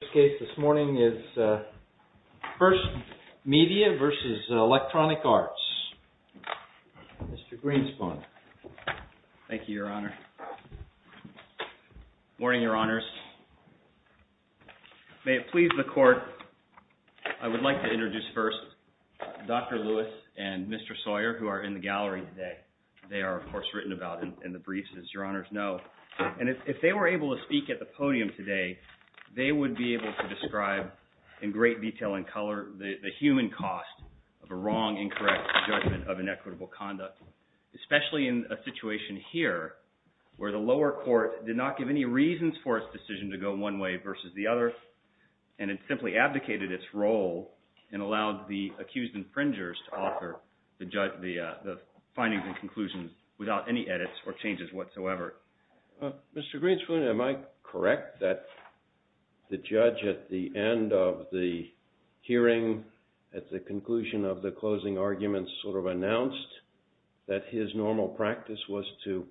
The first case this morning is 1ST MEDIA v. ELECTRONIC ARTS. Mr. Greenspun. Thank you, Your Honor. Morning, Your Honors. May it please the Court, I would like to introduce first Dr. Lewis and Mr. Sawyer, who are in the gallery today. They are, of course, written about in the briefs, as Your Honors know. And if they were able to speak at the podium today, they would be able to describe in great detail and color the human cost of a wrong, incorrect judgment of inequitable conduct. Especially in a situation here, where the lower court did not give any reasons for its decision to go one way versus the other, and it simply abdicated its role and allowed the accused infringers to offer the findings and conclusions without any edits or changes whatsoever. Mr. Greenspun, am I correct that the judge at the end of the hearing, at the conclusion of the closing arguments, sort of announced that his normal practice was to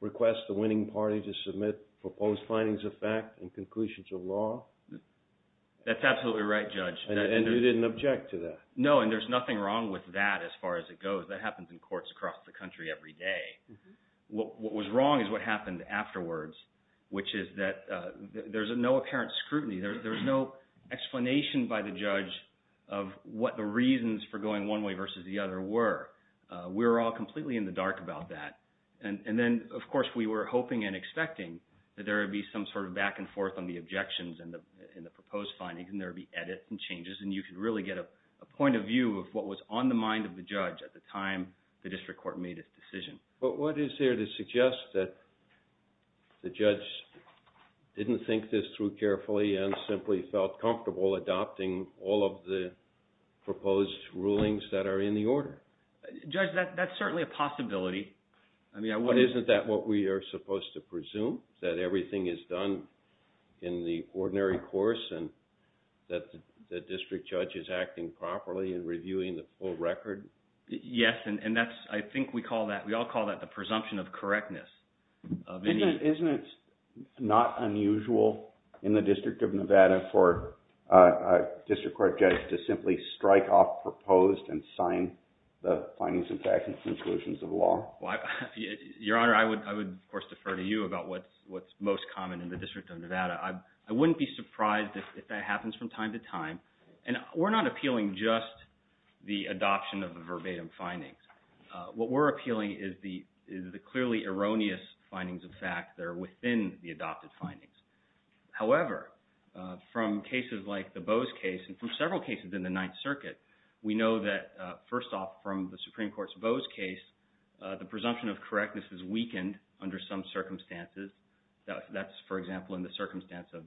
request the winning party to submit proposed findings of fact and conclusions of law? That's absolutely right, Judge. And you didn't object to that? No, and there's nothing wrong with that as far as it goes. That happens in courts across the country every day. What was wrong is what happened afterwards, which is that there's no apparent scrutiny. There's no explanation by the judge of what the reasons for going one way versus the other were. We were all completely in the dark about that. And then, of course, we were hoping and expecting that there would be some sort of back and forth on the objections and the proposed findings, and there would be edits and changes. And you could really get a point of view of what was on the mind of the judge at the time the district court made its decision. But what is there to suggest that the judge didn't think this through carefully and simply felt comfortable adopting all of the proposed rulings that are in the order? Judge, that's certainly a possibility. But isn't that what we are supposed to presume, that everything is done in the ordinary course and that the district judge is acting properly and reviewing the full record? Yes, and I think we all call that the presumption of correctness. Isn't it not unusual in the District of Nevada for a district court judge to simply strike off proposed and sign the findings and facts and conclusions of the law? Your Honor, I would, of course, defer to you about what's most common in the District of Nevada. I wouldn't be surprised if that happens from time to time. And we're not appealing just the adoption of the verbatim findings. What we're appealing is the clearly erroneous findings of fact that are within the adopted findings. However, from cases like the Bowes case and from several cases in the Ninth Circuit, we know that, first off, from the Supreme Court's Bowes case, the presumption of correctness is weakened under some circumstances. That's, for example, in the circumstance of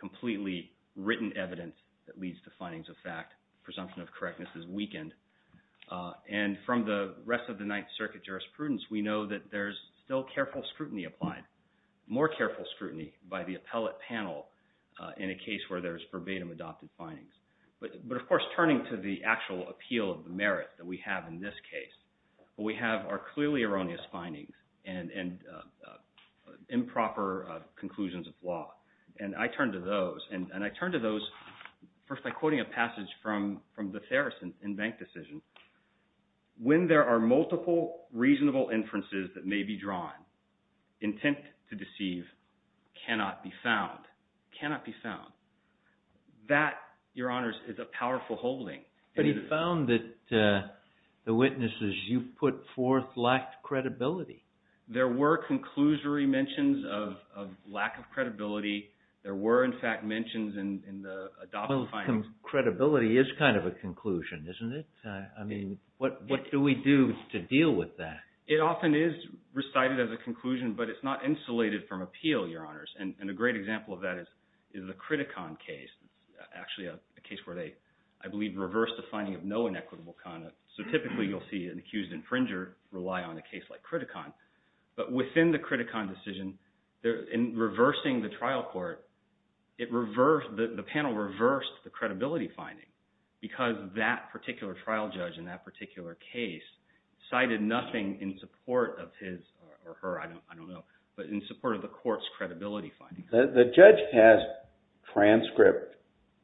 completely written evidence that leads to findings of fact. Presumption of correctness is weakened. And from the rest of the Ninth Circuit jurisprudence, we know that there's still careful scrutiny applied, more careful scrutiny by the appellate panel in a case where there's verbatim adopted findings. But, of course, turning to the actual appeal of the merit that we have in this case, we have our clearly erroneous findings and improper conclusions of law. And I turn to those. And I turn to those first by quoting a passage from the Therese in Bank Decision. When there are multiple reasonable inferences that may be drawn, intent to deceive cannot be found. Cannot be found. That, Your Honors, is a powerful holding. But he found that the witnesses you put forth lacked credibility. There were conclusory mentions of lack of credibility. There were, in fact, mentions in the adopted findings. But some credibility is kind of a conclusion, isn't it? I mean, what do we do to deal with that? It often is recited as a conclusion, but it's not insulated from appeal, Your Honors. And a great example of that is the Criticon case, actually a case where they, I believe, reversed the finding of no inequitable conduct. So typically you'll see an accused infringer rely on a case like Criticon. But within the Criticon decision, in reversing the trial court, the panel reversed the credibility finding because that particular trial judge in that particular case cited nothing in support of his or her, I don't know, but in support of the court's credibility finding. The judge has transcripted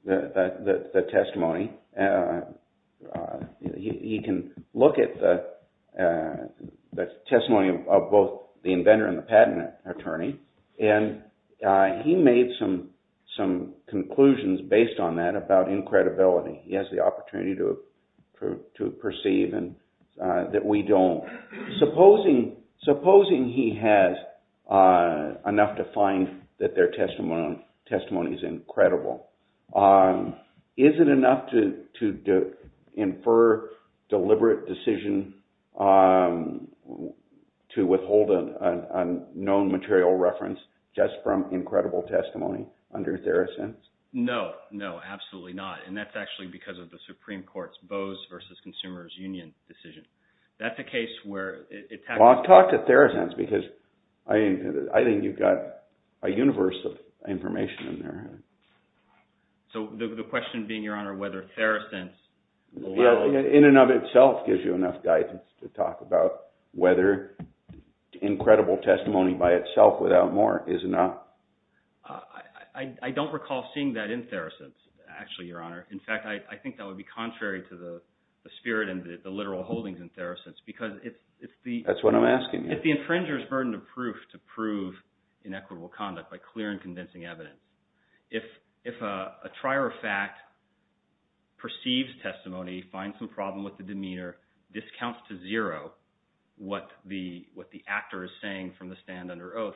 the testimony. He can look at the testimony of both the inventor and the patent attorney. And he made some conclusions based on that about incredibility. He has the opportunity to perceive that we don't. Supposing he has enough to find that their testimony is incredible. Is it enough to infer deliberate decision to withhold a known material reference just from incredible testimony under Therosense? No, no, absolutely not. And that's actually because of the Supreme Court's Bose v. Consumers Union decision. That's a case where it— Well, I'll talk to Therosense because I think you've got a universe of information in there. So the question being, Your Honor, whether Therosense— In and of itself gives you enough guidance to talk about whether incredible testimony by itself without more is enough. I don't recall seeing that in Therosense, actually, Your Honor. In fact, I think that would be contrary to the spirit and the literal holdings in Therosense because it's the— That's what I'm asking you. If the infringer is burdened of proof to prove inequitable conduct by clear and convincing evidence, if a trier of fact perceives testimony, finds some problem with the demeanor, discounts to zero what the actor is saying from the stand under oath,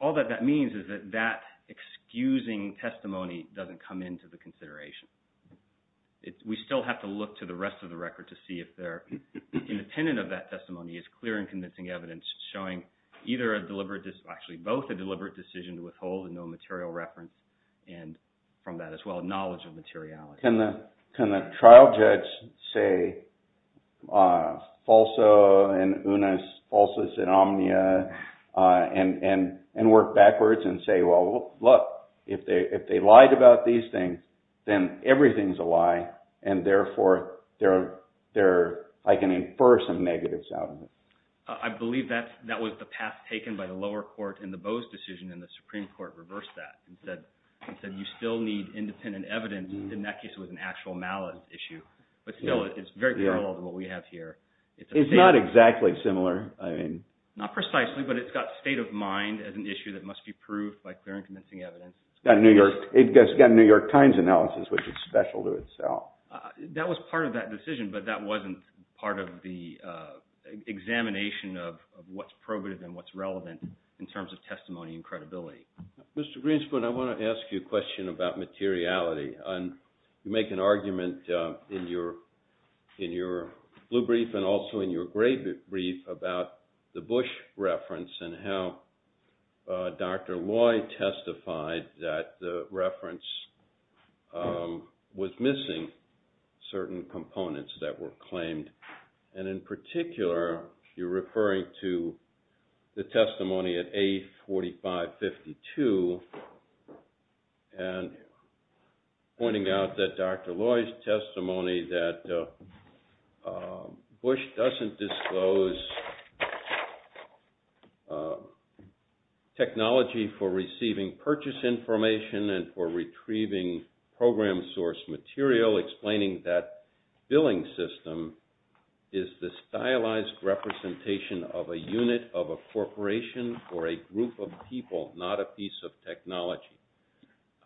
all that that means is that that excusing testimony doesn't come into the consideration. We still have to look to the rest of the record to see if they're independent of that testimony as clear and convincing evidence showing either a deliberate—actually, both a deliberate decision to withhold and no material reference, and from that as well, knowledge of materiality. Can the trial judge say falso and unus, falsus and omnia, and work backwards and say, well, look, if they lied about these things, then everything's a lie, and therefore, I can infer some negatives out of it. I believe that was the path taken by the lower court in the Bowes decision, and the Supreme Court reversed that and said you still need independent evidence. In that case, it was an actual malice issue. But still, it's very parallel to what we have here. It's not exactly similar. Not precisely, but it's got state of mind as an issue that must be proved by clear and convincing evidence. It's got a New York Times analysis, which is special to itself. That was part of that decision, but that wasn't part of the examination of what's probative and what's relevant in terms of testimony and credibility. Mr. Greenspan, I want to ask you a question about materiality. You make an argument in your blue brief and also in your gray brief about the Bush reference and how Dr. Loy testified that the reference was missing certain components that were claimed. In particular, you're referring to the testimony at A4552 and pointing out that Dr. Loy's testimony that Bush doesn't disclose technology for receiving purchase information and for retrieving program source material, explaining that billing system is the stylized representation of a unit of a corporation or a group of people, not a piece of technology.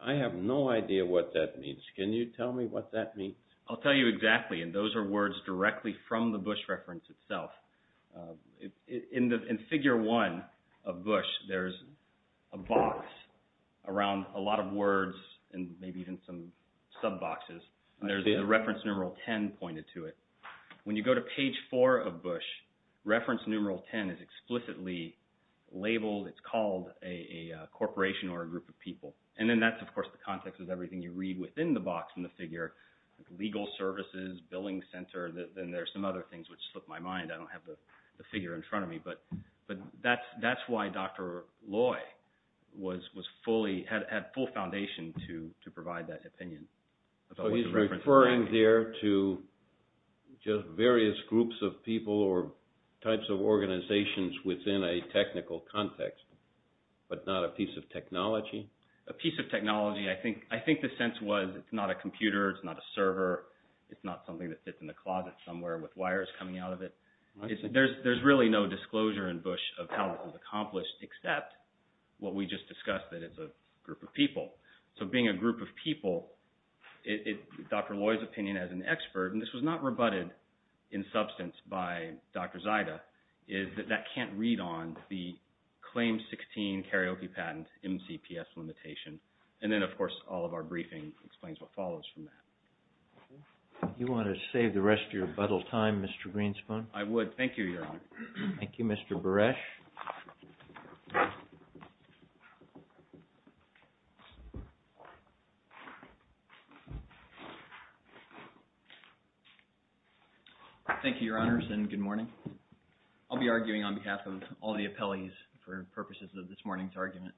I have no idea what that means. Can you tell me what that means? I'll tell you exactly, and those are words directly from the Bush reference itself. In Figure 1 of Bush, there's a box around a lot of words and maybe even some sub boxes. There's a reference numeral 10 pointed to it. When you go to page 4 of Bush, reference numeral 10 is explicitly labeled. It's called a corporation or a group of people. And then that's, of course, the context of everything you read within the box in the figure, legal services, billing center, then there's some other things which slip my mind. I don't have the figure in front of me, but that's why Dr. Loy had full foundation to provide that opinion. So he's referring there to just various groups of people or types of organizations within a technical context, but not a piece of technology? A piece of technology. I think the sense was it's not a computer, it's not a server, it's not something that sits in the closet somewhere with wires coming out of it. There's really no disclosure in Bush of how it was accomplished except what we just discussed, that it's a group of people. So being a group of people, Dr. Loy's opinion as an expert, and this was not rebutted in substance by Dr. Zaida, is that that can't read on the claim 16 karaoke patent MCPS limitation. And then, of course, all of our briefing explains what follows from that. Do you want to save the rest of your rebuttal time, Mr. Greenspan? I would. Thank you, Your Honor. Thank you, Mr. Buresh. Thank you, Your Honors, and good morning. I'll be arguing on behalf of all the appellees for purposes of this morning's argument.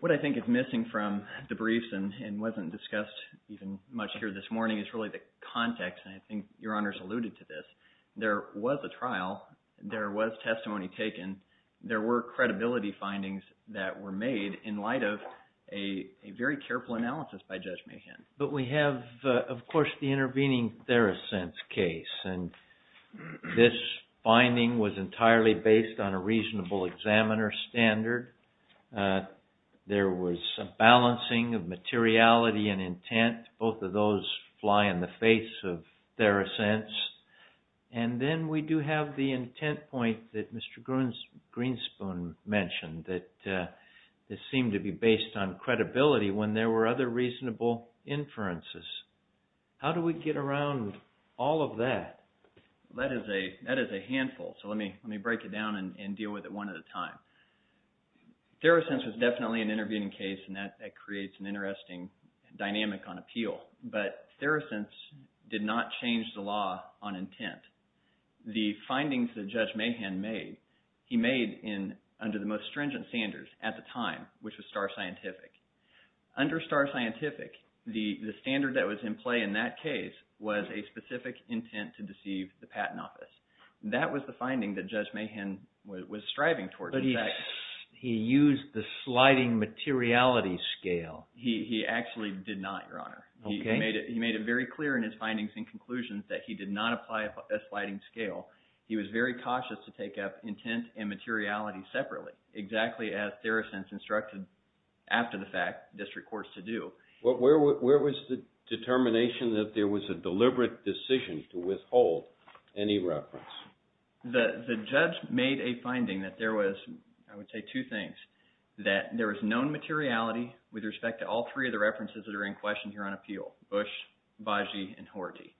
What I think is missing from the briefs and wasn't discussed even much here this morning is really the context, and I think Your Honors alluded to this. There was a trial. There was testimony taken. There were credibility findings that were made in light of a very careful analysis by Judge Mahan. But we have, of course, the intervening Theresense case, and this finding was entirely based on a reasonable examiner standard. There was a balancing of materiality and intent. Both of those fly in the face of Theresense. And then we do have the intent point that Mr. Greenspan mentioned, that this seemed to be based on credibility when there were other reasonable inferences. How do we get around all of that? That is a handful, so let me break it down and deal with it one at a time. Theresense was definitely an intervening case, and that creates an interesting dynamic on appeal. But Theresense did not change the law on intent. The findings that Judge Mahan made, he made under the most stringent standards at the time, which was star scientific. Under star scientific, the standard that was in play in that case was a specific intent to deceive the patent office. That was the finding that Judge Mahan was striving towards. But he used the sliding materiality scale. He actually did not, Your Honor. He made it very clear in his findings and conclusions that he did not apply a sliding scale. He was very cautious to take up intent and materiality separately, exactly as Theresense instructed, after the fact, district courts to do. Where was the determination that there was a deliberate decision to withhold any reference? The judge made a finding that there was, I would say, two things. That there was known materiality with respect to all three of the references that are in question here on appeal, Bush, Baggi, and Horty.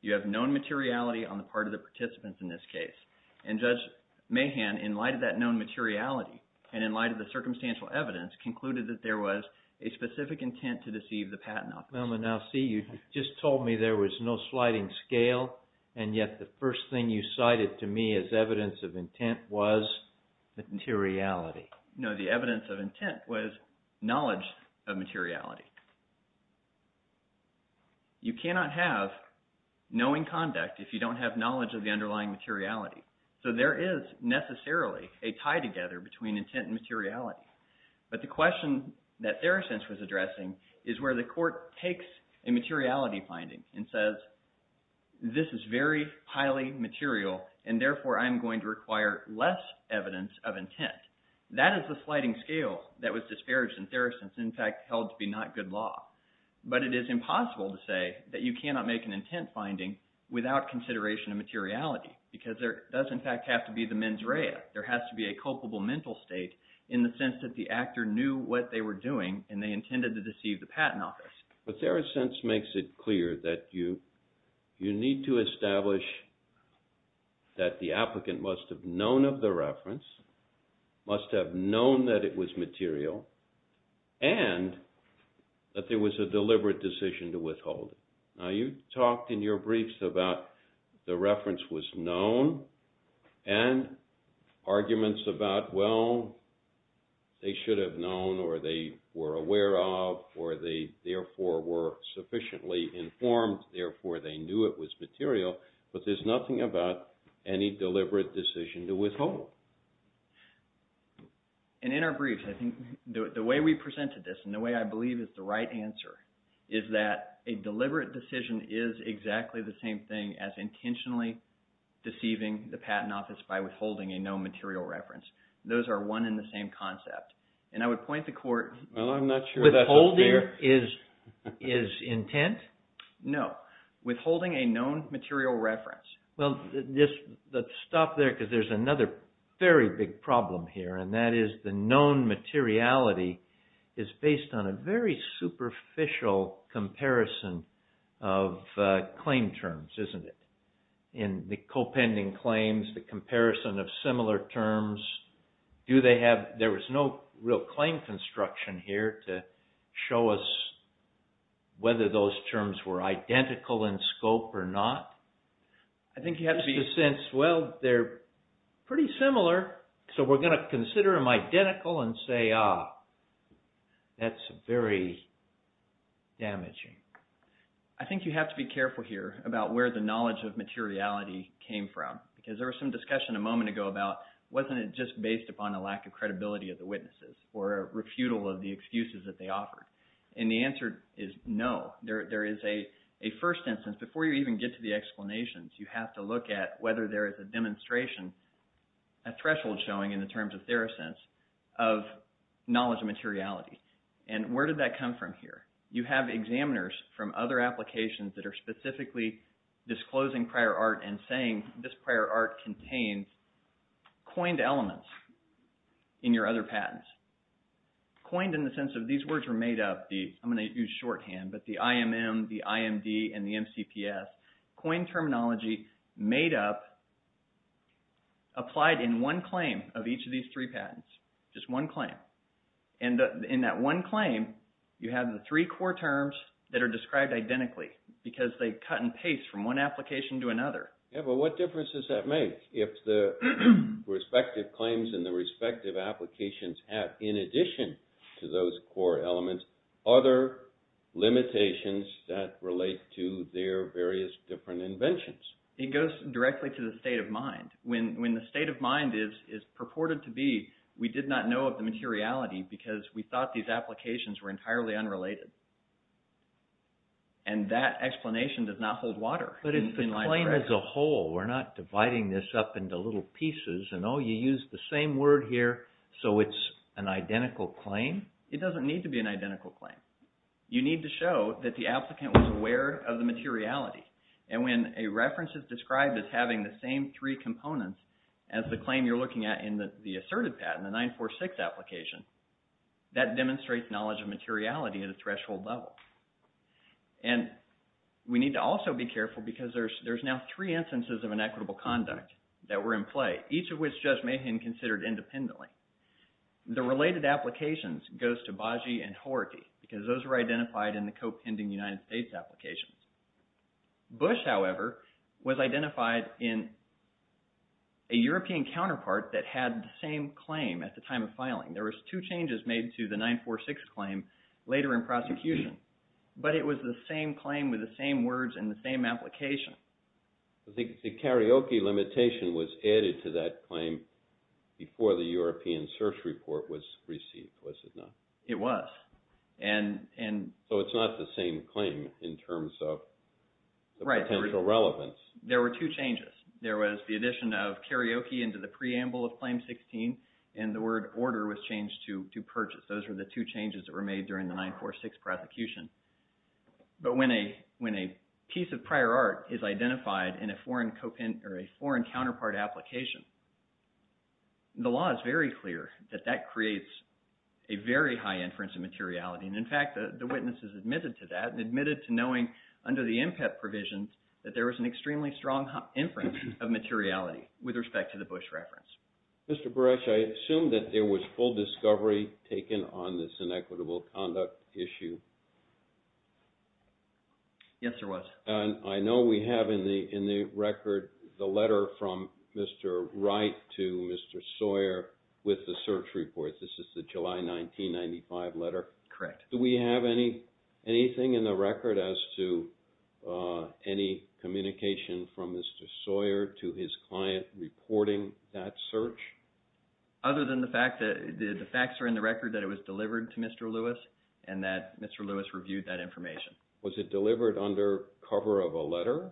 You have known materiality on the part of the participants in this case. And Judge Mahan, in light of that known materiality and in light of the circumstantial evidence, concluded that there was a specific intent to deceive the patent office. Now see, you just told me there was no sliding scale, and yet the first thing you cited to me as evidence of intent was materiality. No, the evidence of intent was knowledge of materiality. You cannot have knowing conduct if you don't have knowledge of the underlying materiality. So there is necessarily a tie together between intent and materiality. But the question that Theresense was addressing is where the court takes a materiality finding and says this is very highly material, and therefore I'm going to require less evidence of intent. That is the sliding scale that was disparaged in Theresense and, in fact, held to be not good law. But it is impossible to say that you cannot make an intent finding without consideration of materiality because there does, in fact, have to be the mens rea. There has to be a culpable mental state in the sense that the actor knew what they were doing, and they intended to deceive the patent office. But Theresense makes it clear that you need to establish that the applicant must have known of the reference, must have known that it was material, and that there was a deliberate decision to withhold it. Now, you talked in your briefs about the reference was known and arguments about, well, they should have known, or they were aware of, or they therefore were sufficiently informed, therefore they knew it was material. But there's nothing about any deliberate decision to withhold. And in our briefs, I think the way we presented this and the way I believe is the right answer is that a deliberate decision is exactly the same thing as intentionally deceiving the patent office by withholding a known material reference. Those are one and the same concept. And I would point the court – Well, I'm not sure that's a fair – Withholding is intent? No. Withholding a known material reference. Well, let's stop there because there's another very big problem here, and that is the known materiality is based on a very superficial comparison of claim terms, isn't it? In the co-pending claims, the comparison of similar terms, do they have – there was no real claim construction here to show us whether those terms were identical in scope or not. I think you have to be – Well, they're pretty similar, so we're going to consider them identical and say, ah, that's very damaging. I think you have to be careful here about where the knowledge of materiality came from because there was some discussion a moment ago about wasn't it just based upon a lack of credibility of the witnesses or a refutal of the excuses that they offered? And the answer is no. There is a first instance. Before you even get to the explanations, you have to look at whether there is a demonstration, a threshold showing in the terms of theorists of knowledge of materiality. And where did that come from here? You have examiners from other applications that are specifically disclosing prior art and saying this prior art contains coined elements in your other patents. Coined in the sense of these words were made up, I'm going to use shorthand, but the IMM, the IMD, and the MCPS, coined terminology made up, applied in one claim of each of these three patents, just one claim. And in that one claim, you have the three core terms that are described identically because they cut and paste from one application to another. Yeah, but what difference does that make if the respective claims and the respective applications have, in addition to those core elements, other limitations that relate to their various different inventions? It goes directly to the state of mind. When the state of mind is purported to be we did not know of the materiality because we thought these applications were entirely unrelated. And that explanation does not hold water. But it's the claim as a whole. We're not dividing this up into little pieces and oh, you used the same word here, so it's an identical claim? It doesn't need to be an identical claim. You need to show that the applicant was aware of the materiality. And when a reference is described as having the same three components as the claim you're looking at in the asserted patent, the 946 application, that demonstrates knowledge of materiality at a threshold level. And we need to also be careful because there's now three instances of inequitable conduct that were in play, each of which Judge Mahan considered independently. The related applications goes to Baggi and Horty because those were identified in the co-pending United States applications. Bush, however, was identified in a European counterpart that had the same claim at the time of filing. There was two changes made to the 946 claim later in prosecution, but it was the same claim with the same words and the same application. I think the karaoke limitation was added to that claim before the European search report was received, was it not? It was. So it's not the same claim in terms of the potential relevance. There were two changes. There was the addition of karaoke into the preamble of Claim 16, and the word order was changed to purchase. Those were the two changes that were made during the 946 prosecution. But when a piece of prior art is identified in a foreign counterpart application, the law is very clear that that creates a very high inference of materiality. In fact, the witnesses admitted to that and admitted to knowing under the MPEP provisions that there was an extremely strong inference of materiality with respect to the Bush reference. Mr. Buresh, I assume that there was full discovery taken on this inequitable conduct issue. Yes, there was. And I know we have in the record the letter from Mr. Wright to Mr. Sawyer with the search report. This is the July 1995 letter? Correct. Do we have anything in the record as to any communication from Mr. Sawyer to his client reporting that search? Other than the fact that the facts are in the record that it was delivered to Mr. Lewis and that Mr. Lewis reviewed that information. Was it delivered under cover of a letter?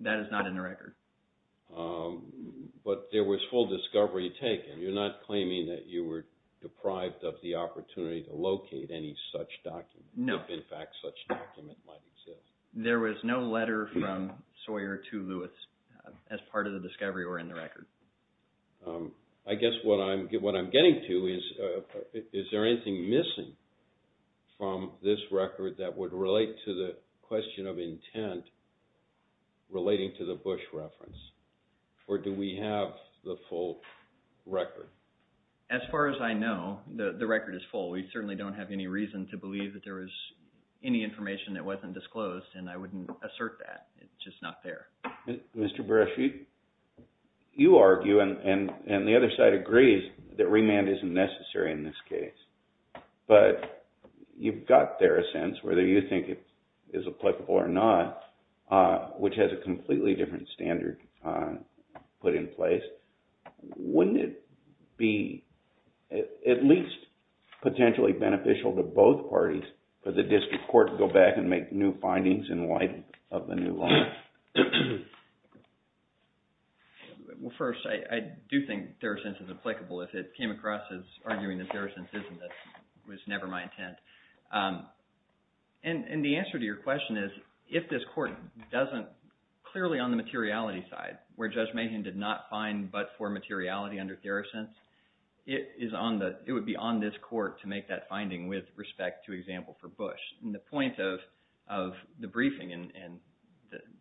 That is not in the record. But there was full discovery taken. You're not claiming that you were deprived of the opportunity to locate any such document. No. In fact, such a document might exist. There was no letter from Sawyer to Lewis as part of the discovery or in the record. I guess what I'm getting to is, is there anything missing from this record that would relate to the question of intent relating to the Bush reference? Or do we have the full record? As far as I know, the record is full. We certainly don't have any reason to believe that there was any information that wasn't disclosed. And I wouldn't assert that. It's just not there. Mr. Beresheet, you argue and the other side agrees that remand isn't necessary in this case. But you've got there a sense, whether you think it is applicable or not, which has a completely different standard put in place. Wouldn't it be at least potentially beneficial to both parties for the district court to go back and make new findings in light of the new law? Well, first, I do think there are senses applicable if it came across as arguing that there are senses and that it was never my intent. And the answer to your question is, if this court doesn't – clearly on the materiality side, where Judge Mahan did not find but-for materiality under theracents, it would be on this court to make that finding with respect to example for Bush. And the point of the briefing and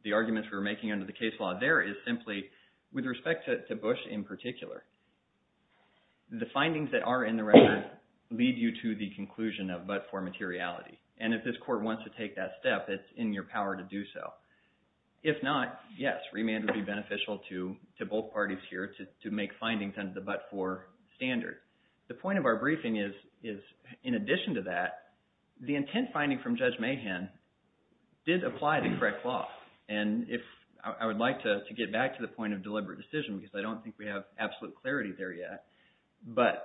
the arguments we were making under the case law there is simply with respect to Bush in particular. The findings that are in the record lead you to the conclusion of but-for materiality. And if this court wants to take that step, it's in your power to do so. If not, yes, remand would be beneficial to both parties here to make findings under the but-for standard. The point of our briefing is, in addition to that, the intent finding from Judge Mahan did apply to correct law. And if – I would like to get back to the point of deliberate decision because I don't think we have absolute clarity there yet. But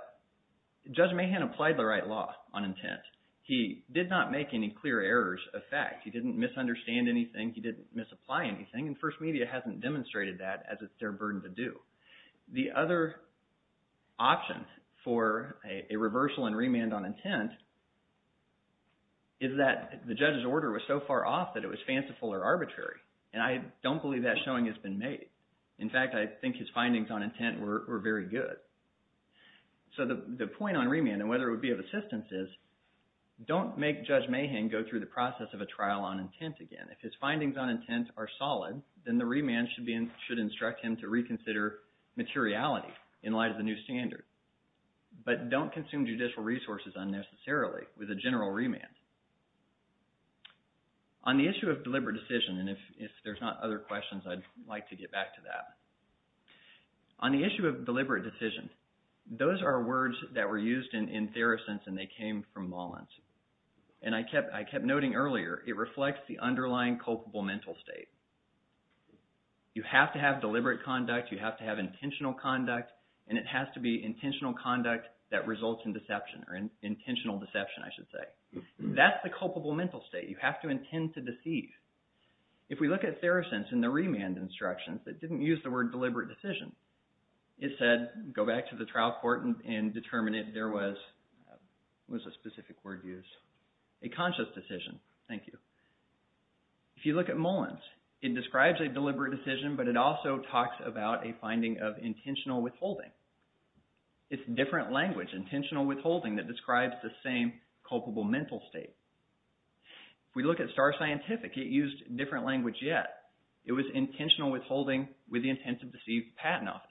Judge Mahan applied the right law on intent. He did not make any clear errors of fact. He didn't misunderstand anything. He didn't misapply anything. And First Media hasn't demonstrated that as it's their burden to do. The other option for a reversal and remand on intent is that the judge's order was so far off that it was fanciful or arbitrary. And I don't believe that showing has been made. In fact, I think his findings on intent were very good. So the point on remand and whether it would be of assistance is don't make Judge Mahan go through the process of a trial on intent again. If his findings on intent are solid, then the remand should instruct him to reconsider materiality in light of the new standard. But don't consume judicial resources unnecessarily with a general remand. On the issue of deliberate decision, and if there's not other questions, I'd like to get back to that. On the issue of deliberate decision, those are words that were used in Theracense, and they came from Lawrence. And I kept noting earlier, it reflects the underlying culpable mental state. You have to have deliberate conduct. You have to have intentional conduct, and it has to be intentional conduct that results in deception or intentional deception, I should say. That's the culpable mental state. You have to intend to deceive. If we look at Theracense in the remand instructions, it didn't use the word deliberate decision. It said go back to the trial court and determine if there was a specific word used. A conscious decision, thank you. If you look at Mullins, it describes a deliberate decision, but it also talks about a finding of intentional withholding. It's different language, intentional withholding, that describes the same culpable mental state. If we look at Star Scientific, it used a different language yet. It was intentional withholding with the intent to deceive patent office.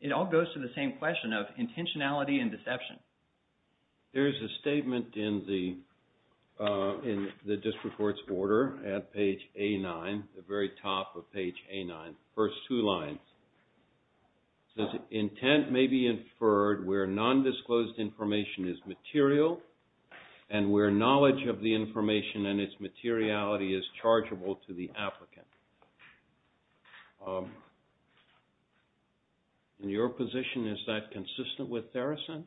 It all goes to the same question of intentionality and deception. There's a statement in the district court's order at page A9, the very top of page A9, the first two lines. It says intent may be inferred where nondisclosed information is material and where knowledge of the information and its materiality is chargeable to the applicant. In your position, is that consistent with Theracense?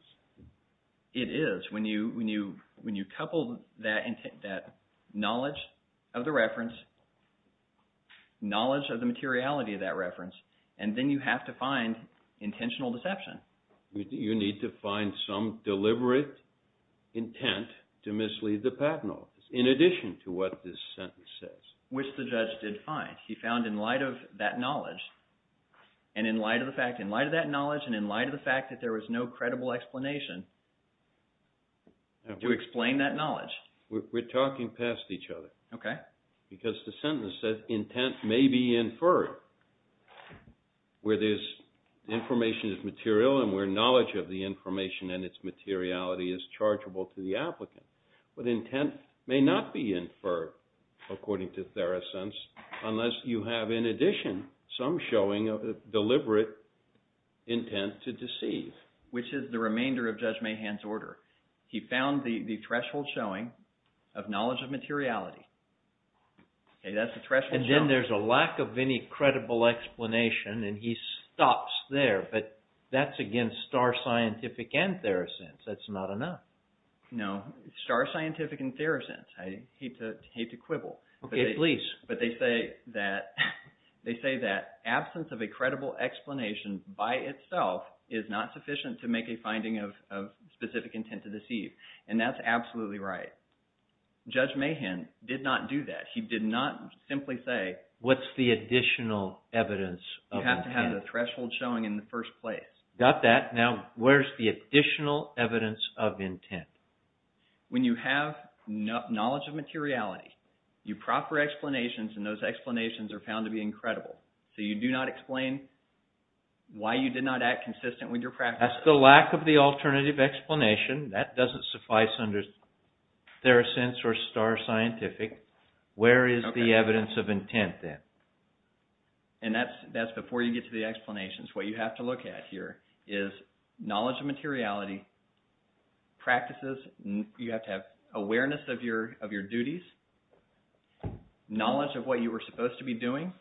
It is when you couple that knowledge of the reference, knowledge of the materiality of that reference, and then you have to find intentional deception. You need to find some deliberate intent to mislead the patent office in addition to what this sentence says. Which the judge did find. He found in light of that knowledge and in light of the fact that there was no credible explanation to explain that knowledge. We're talking past each other. Okay. Because the sentence says intent may be inferred where this information is material and where knowledge of the information and its materiality is chargeable to the applicant. But intent may not be inferred, according to Theracense, unless you have in addition some showing of deliberate intent to deceive. Which is the remainder of Judge Mahan's order. He found the threshold showing of knowledge of materiality. That's the threshold showing. And then there's a lack of any credible explanation, and he stops there. But that's against Star Scientific and Theracense. That's not enough. No. Star Scientific and Theracense. I hate to quibble. Okay, please. But they say that absence of a credible explanation by itself is not sufficient to make a finding of specific intent to deceive. And that's absolutely right. Judge Mahan did not do that. He did not simply say… What's the additional evidence of intent? You have to have the threshold showing in the first place. Got that. Now, where's the additional evidence of intent? When you have knowledge of materiality, you proper explanations, and those explanations are found to be incredible. So you do not explain why you did not act consistent with your practice. That's the lack of the alternative explanation. That doesn't suffice under Theracense or Star Scientific. Where is the evidence of intent then? And that's before you get to the explanations. What you have to look at here is knowledge of materiality, practices. You have to have awareness of your duties, knowledge of what you were supposed to be doing.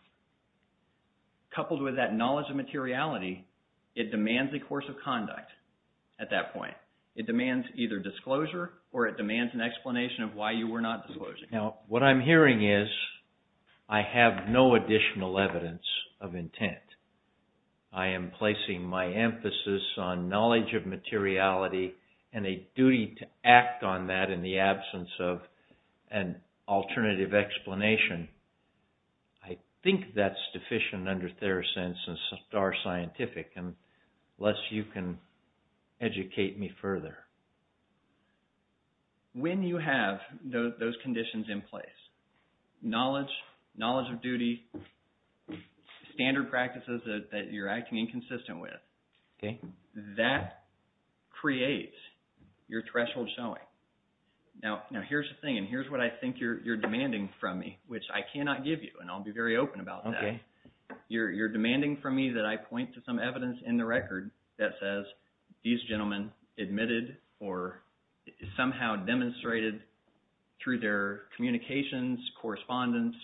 Coupled with that knowledge of materiality, it demands a course of conduct at that point. It demands either disclosure or it demands an explanation of why you were not disclosing. Now, what I'm hearing is I have no additional evidence of intent. I am placing my emphasis on knowledge of materiality and a duty to act on that in the absence of an alternative explanation. I think that's deficient under Theracense and Star Scientific, unless you can educate me further. When you have those conditions in place, knowledge, knowledge of duty, standard practices that you're acting inconsistent with, that creates your threshold showing. Now, here's the thing, and here's what I think you're demanding from me, which I cannot give you, and I'll be very open about that. Okay, you're demanding from me that I point to some evidence in the record that says these gentlemen admitted or somehow demonstrated through their communications, correspondence.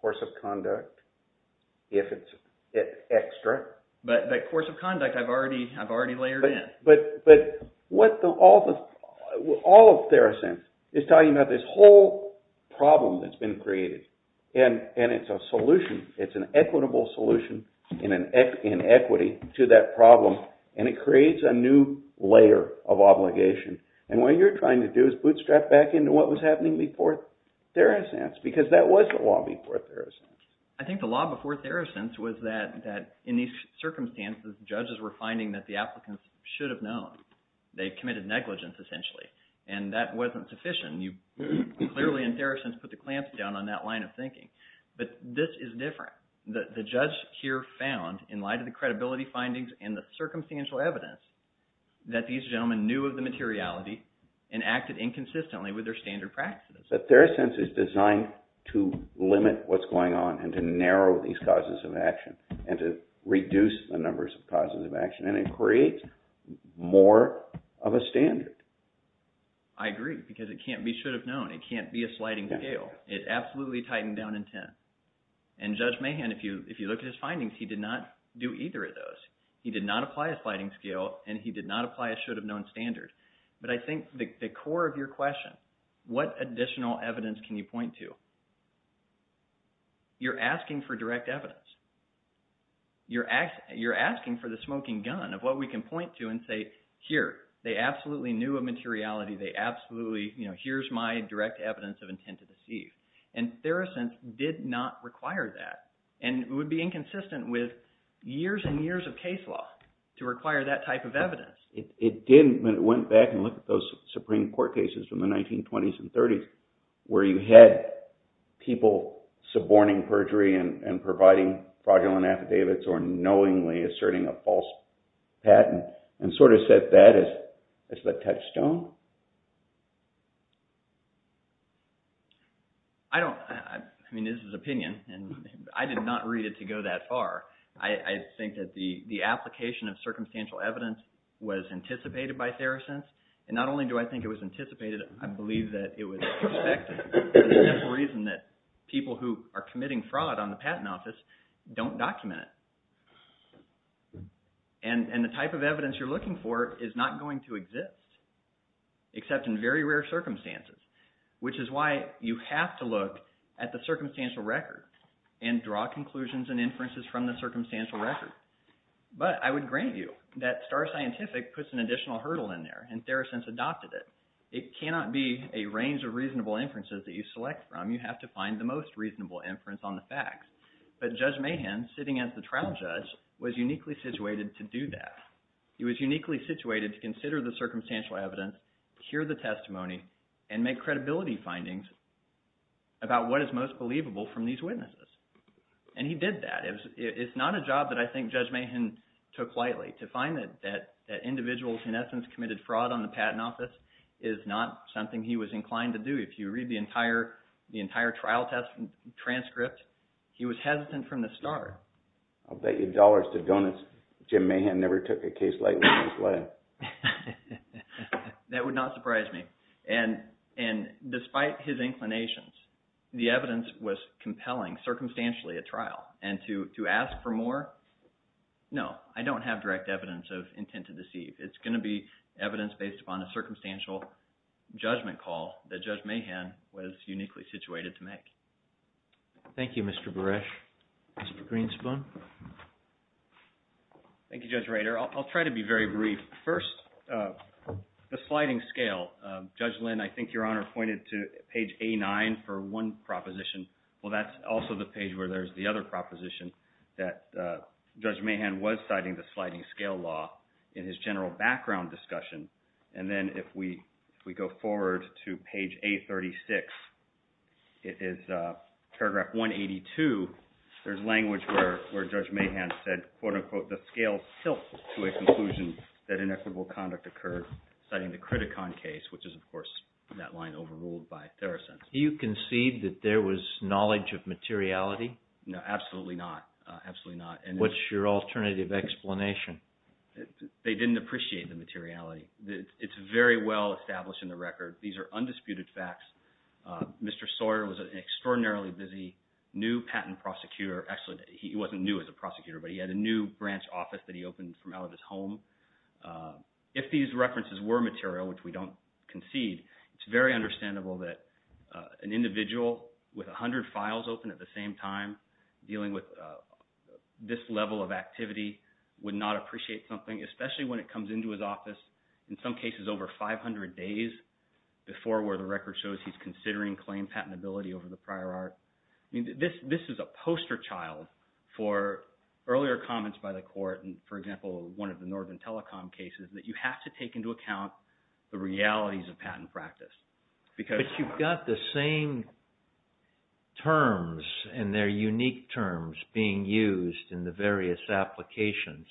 Course of conduct, if it's extra. But that course of conduct I've already layered in. But all of Theracense is talking about this whole problem that's been created, and it's a solution. It's an equitable solution in equity to that problem, and it creates a new layer of obligation. And what you're trying to do is bootstrap back into what was happening before Theracense, because that was the law before Theracense. I think the law before Theracense was that in these circumstances, judges were finding that the applicants should have known. They committed negligence, essentially, and that wasn't sufficient. Clearly, in Theracense, put the clamps down on that line of thinking. But this is different. The judge here found, in light of the credibility findings and the circumstantial evidence, that these gentlemen knew of the materiality and acted inconsistently with their standard practices. That Theracense is designed to limit what's going on and to narrow these causes of action and to reduce the numbers of causes of action, and it creates more of a standard. I agree, because it can't be should have known. It can't be a sliding scale. It absolutely tightened down intent. And Judge Mahan, if you look at his findings, he did not do either of those. He did not apply a sliding scale, and he did not apply a should have known standard. But I think the core of your question, what additional evidence can you point to? You're asking for direct evidence. You're asking for the smoking gun of what we can point to and say, here, they absolutely knew of materiality. They absolutely – here's my direct evidence of intent to deceive. And Theracense did not require that, and it would be inconsistent with years and years of case law to require that type of evidence. It didn't, but it went back and looked at those Supreme Court cases from the 1920s and 30s where you had people suborning perjury and providing fraudulent affidavits or knowingly asserting a false patent and sort of set that as the touchstone. I don't – I mean, this is opinion, and I did not read it to go that far. I think that the application of circumstantial evidence was anticipated by Theracense. And not only do I think it was anticipated, I believe that it was expected for the simple reason that people who are committing fraud on the patent office don't document it. And the type of evidence you're looking for is not going to exist except in very rare circumstances, which is why you have to look at the circumstantial record and draw conclusions and inferences from the circumstantial record. But I would grant you that Star Scientific puts an additional hurdle in there, and Theracense adopted it. It cannot be a range of reasonable inferences that you select from. You have to find the most reasonable inference on the facts. But Judge Mahan, sitting as the trial judge, was uniquely situated to do that. He was uniquely situated to consider the circumstantial evidence, hear the testimony, and make credibility findings about what is most believable from these witnesses. And he did that. It's not a job that I think Judge Mahan took lightly. To find that individuals, in essence, committed fraud on the patent office is not something he was inclined to do. If you read the entire trial transcript, he was hesitant from the start. I'll bet you dollars that Judge Mahan never took a case lightly in his life. That would not surprise me. And despite his inclinations, the evidence was compelling, circumstantially, at trial. And to ask for more? No. I don't have direct evidence of intent to deceive. It's going to be evidence based upon a circumstantial judgment call that Judge Mahan was uniquely situated to make. Thank you, Mr. Buresh. Mr. Greenspun? Thank you, Judge Rader. I'll try to be very brief. First, the sliding scale. Judge Lynn, I think Your Honor pointed to page A9 for one proposition. Well, that's also the page where there's the other proposition that Judge Mahan was citing the sliding scale law in his general background discussion. And then if we go forward to page A36, it is paragraph 182. There's language where Judge Mahan said, quote-unquote, the scale tilts to a conclusion that inequitable conduct occurred, citing the Criticon case, which is, of course, that line overruled by Therosense. Do you concede that there was knowledge of materiality? No, absolutely not. Absolutely not. What's your alternative explanation? They didn't appreciate the materiality. It's very well established in the record. These are undisputed facts. Mr. Sawyer was an extraordinarily busy new patent prosecutor. Actually, he wasn't new as a prosecutor, but he had a new branch office that he opened from out of his home. If these references were material, which we don't concede, it's very understandable that an individual with 100 files open at the same time dealing with this level of activity would not appreciate something, especially when it comes into his office, in some cases over 500 days before where the record shows he's considering claim patentability over the prior art. This is a poster child for earlier comments by the court. For example, one of the Northern Telecom cases that you have to take into account the realities of patent practice. But you've got the same terms and their unique terms being used in the various applications.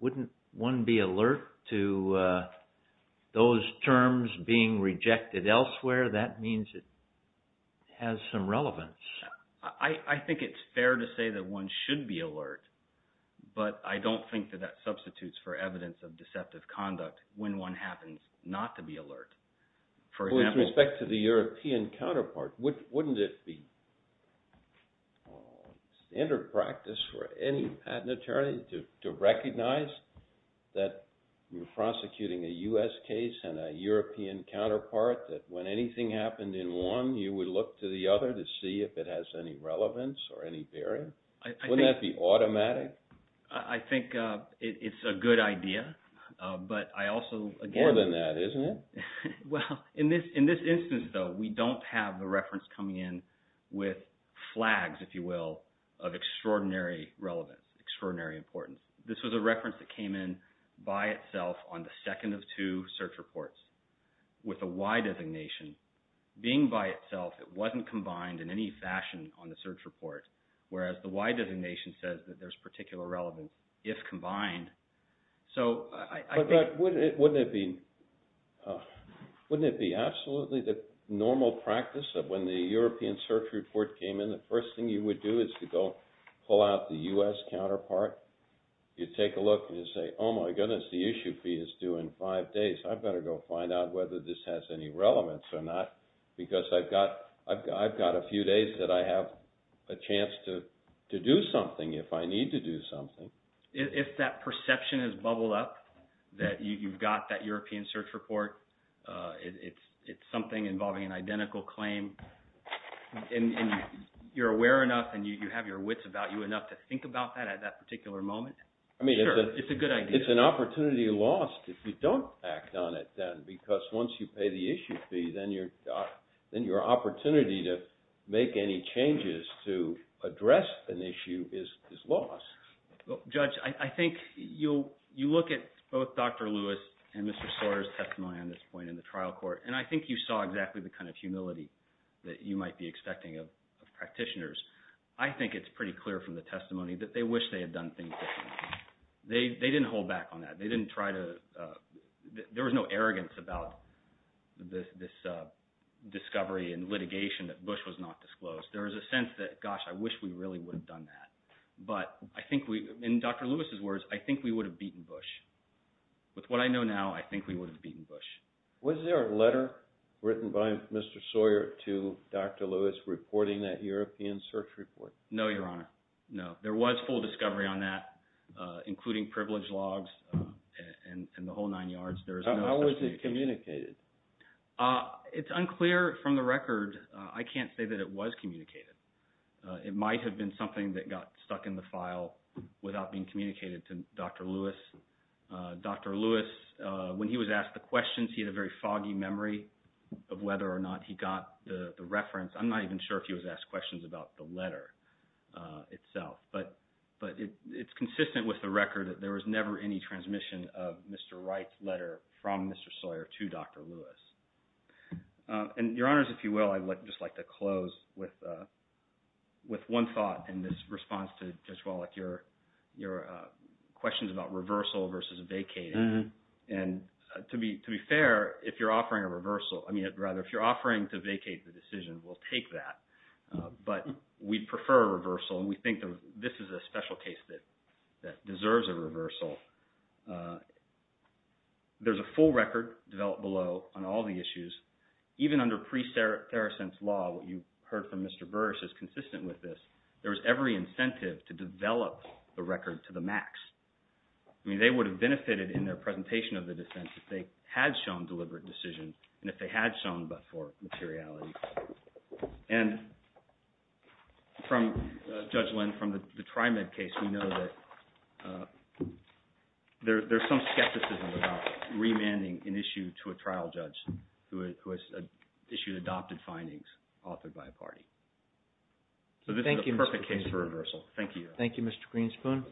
Wouldn't one be alert to those terms being rejected elsewhere? That means it has some relevance. I think it's fair to say that one should be alert, but I don't think that that substitutes for evidence of deceptive conduct when one happens not to be alert. With respect to the European counterpart, wouldn't it be standard practice for any patent attorney to recognize that you're prosecuting a U.S. case and a European counterpart that when anything happened in one, you would look to the other to see if it has any relevance or any bearing? Wouldn't that be automatic? I think it's a good idea, but I also – More than that, isn't it? Well, in this instance, though, we don't have the reference coming in with flags, if you will, of extraordinary relevance, extraordinary importance. This was a reference that came in by itself on the second of two search reports with a Y designation. Being by itself, it wasn't combined in any fashion on the search report, whereas the Y designation says that there's particular relevance if combined. But wouldn't it be absolutely the normal practice that when the European search report came in, the first thing you would do is to go pull out the U.S. counterpart. You'd take a look and you'd say, oh, my goodness, the issue fee is due in five days. I'd better go find out whether this has any relevance or not because I've got a few days that I have a chance to do something if I need to do something. If that perception has bubbled up that you've got that European search report, it's something involving an identical claim, and you're aware enough and you have your wits about you enough to think about that at that particular moment, sure, it's a good idea. I mean, it's an opportunity lost if you don't act on it then because once you pay the issue fee, then your opportunity to make any changes to address an issue is lost. Judge, I think you look at both Dr. Lewis and Mr. Sorter's testimony on this point in the trial court, and I think you saw exactly the kind of humility that you might be expecting of practitioners. I think it's pretty clear from the testimony that they wish they had done things differently. They didn't hold back on that. They didn't try to – there was no arrogance about this discovery and litigation that Bush was not disclosed. There was a sense that, gosh, I wish we really would have done that. But I think we – in Dr. Lewis's words, I think we would have beaten Bush. With what I know now, I think we would have beaten Bush. Was there a letter written by Mr. Sorter to Dr. Lewis reporting that European search report? No, Your Honor. No. There was full discovery on that, including privilege logs and the whole nine yards. How was it communicated? It's unclear from the record. I can't say that it was communicated. It might have been something that got stuck in the file without being communicated to Dr. Lewis. Dr. Lewis, when he was asked the questions, he had a very foggy memory of whether or not he got the reference. I'm not even sure if he was asked questions about the letter itself. But it's consistent with the record that there was never any transmission of Mr. Wright's letter from Mr. Sorter to Dr. Lewis. And Your Honors, if you will, I'd just like to close with one thought in this response to Jeswell, like your questions about reversal versus vacating. And to be fair, if you're offering a reversal – I mean rather, if you're offering to vacate the decision, we'll take that. But we'd prefer a reversal, and we think that this is a special case that deserves a reversal. There's a full record developed below on all the issues. Even under pre-Theracent's law, what you heard from Mr. Burris is consistent with this. There was every incentive to develop the record to the max. I mean, they would have benefited in their presentation of the defense if they had shown deliberate decision and if they had shown but for materiality. And from Judge Lynn, from the TriMed case, we know that there's some skepticism about remanding an issue to a trial judge who has issued adopted findings authored by a party. So this is a perfect case for reversal. Thank you, Your Honors. Thank you, Mr. Greenspoon.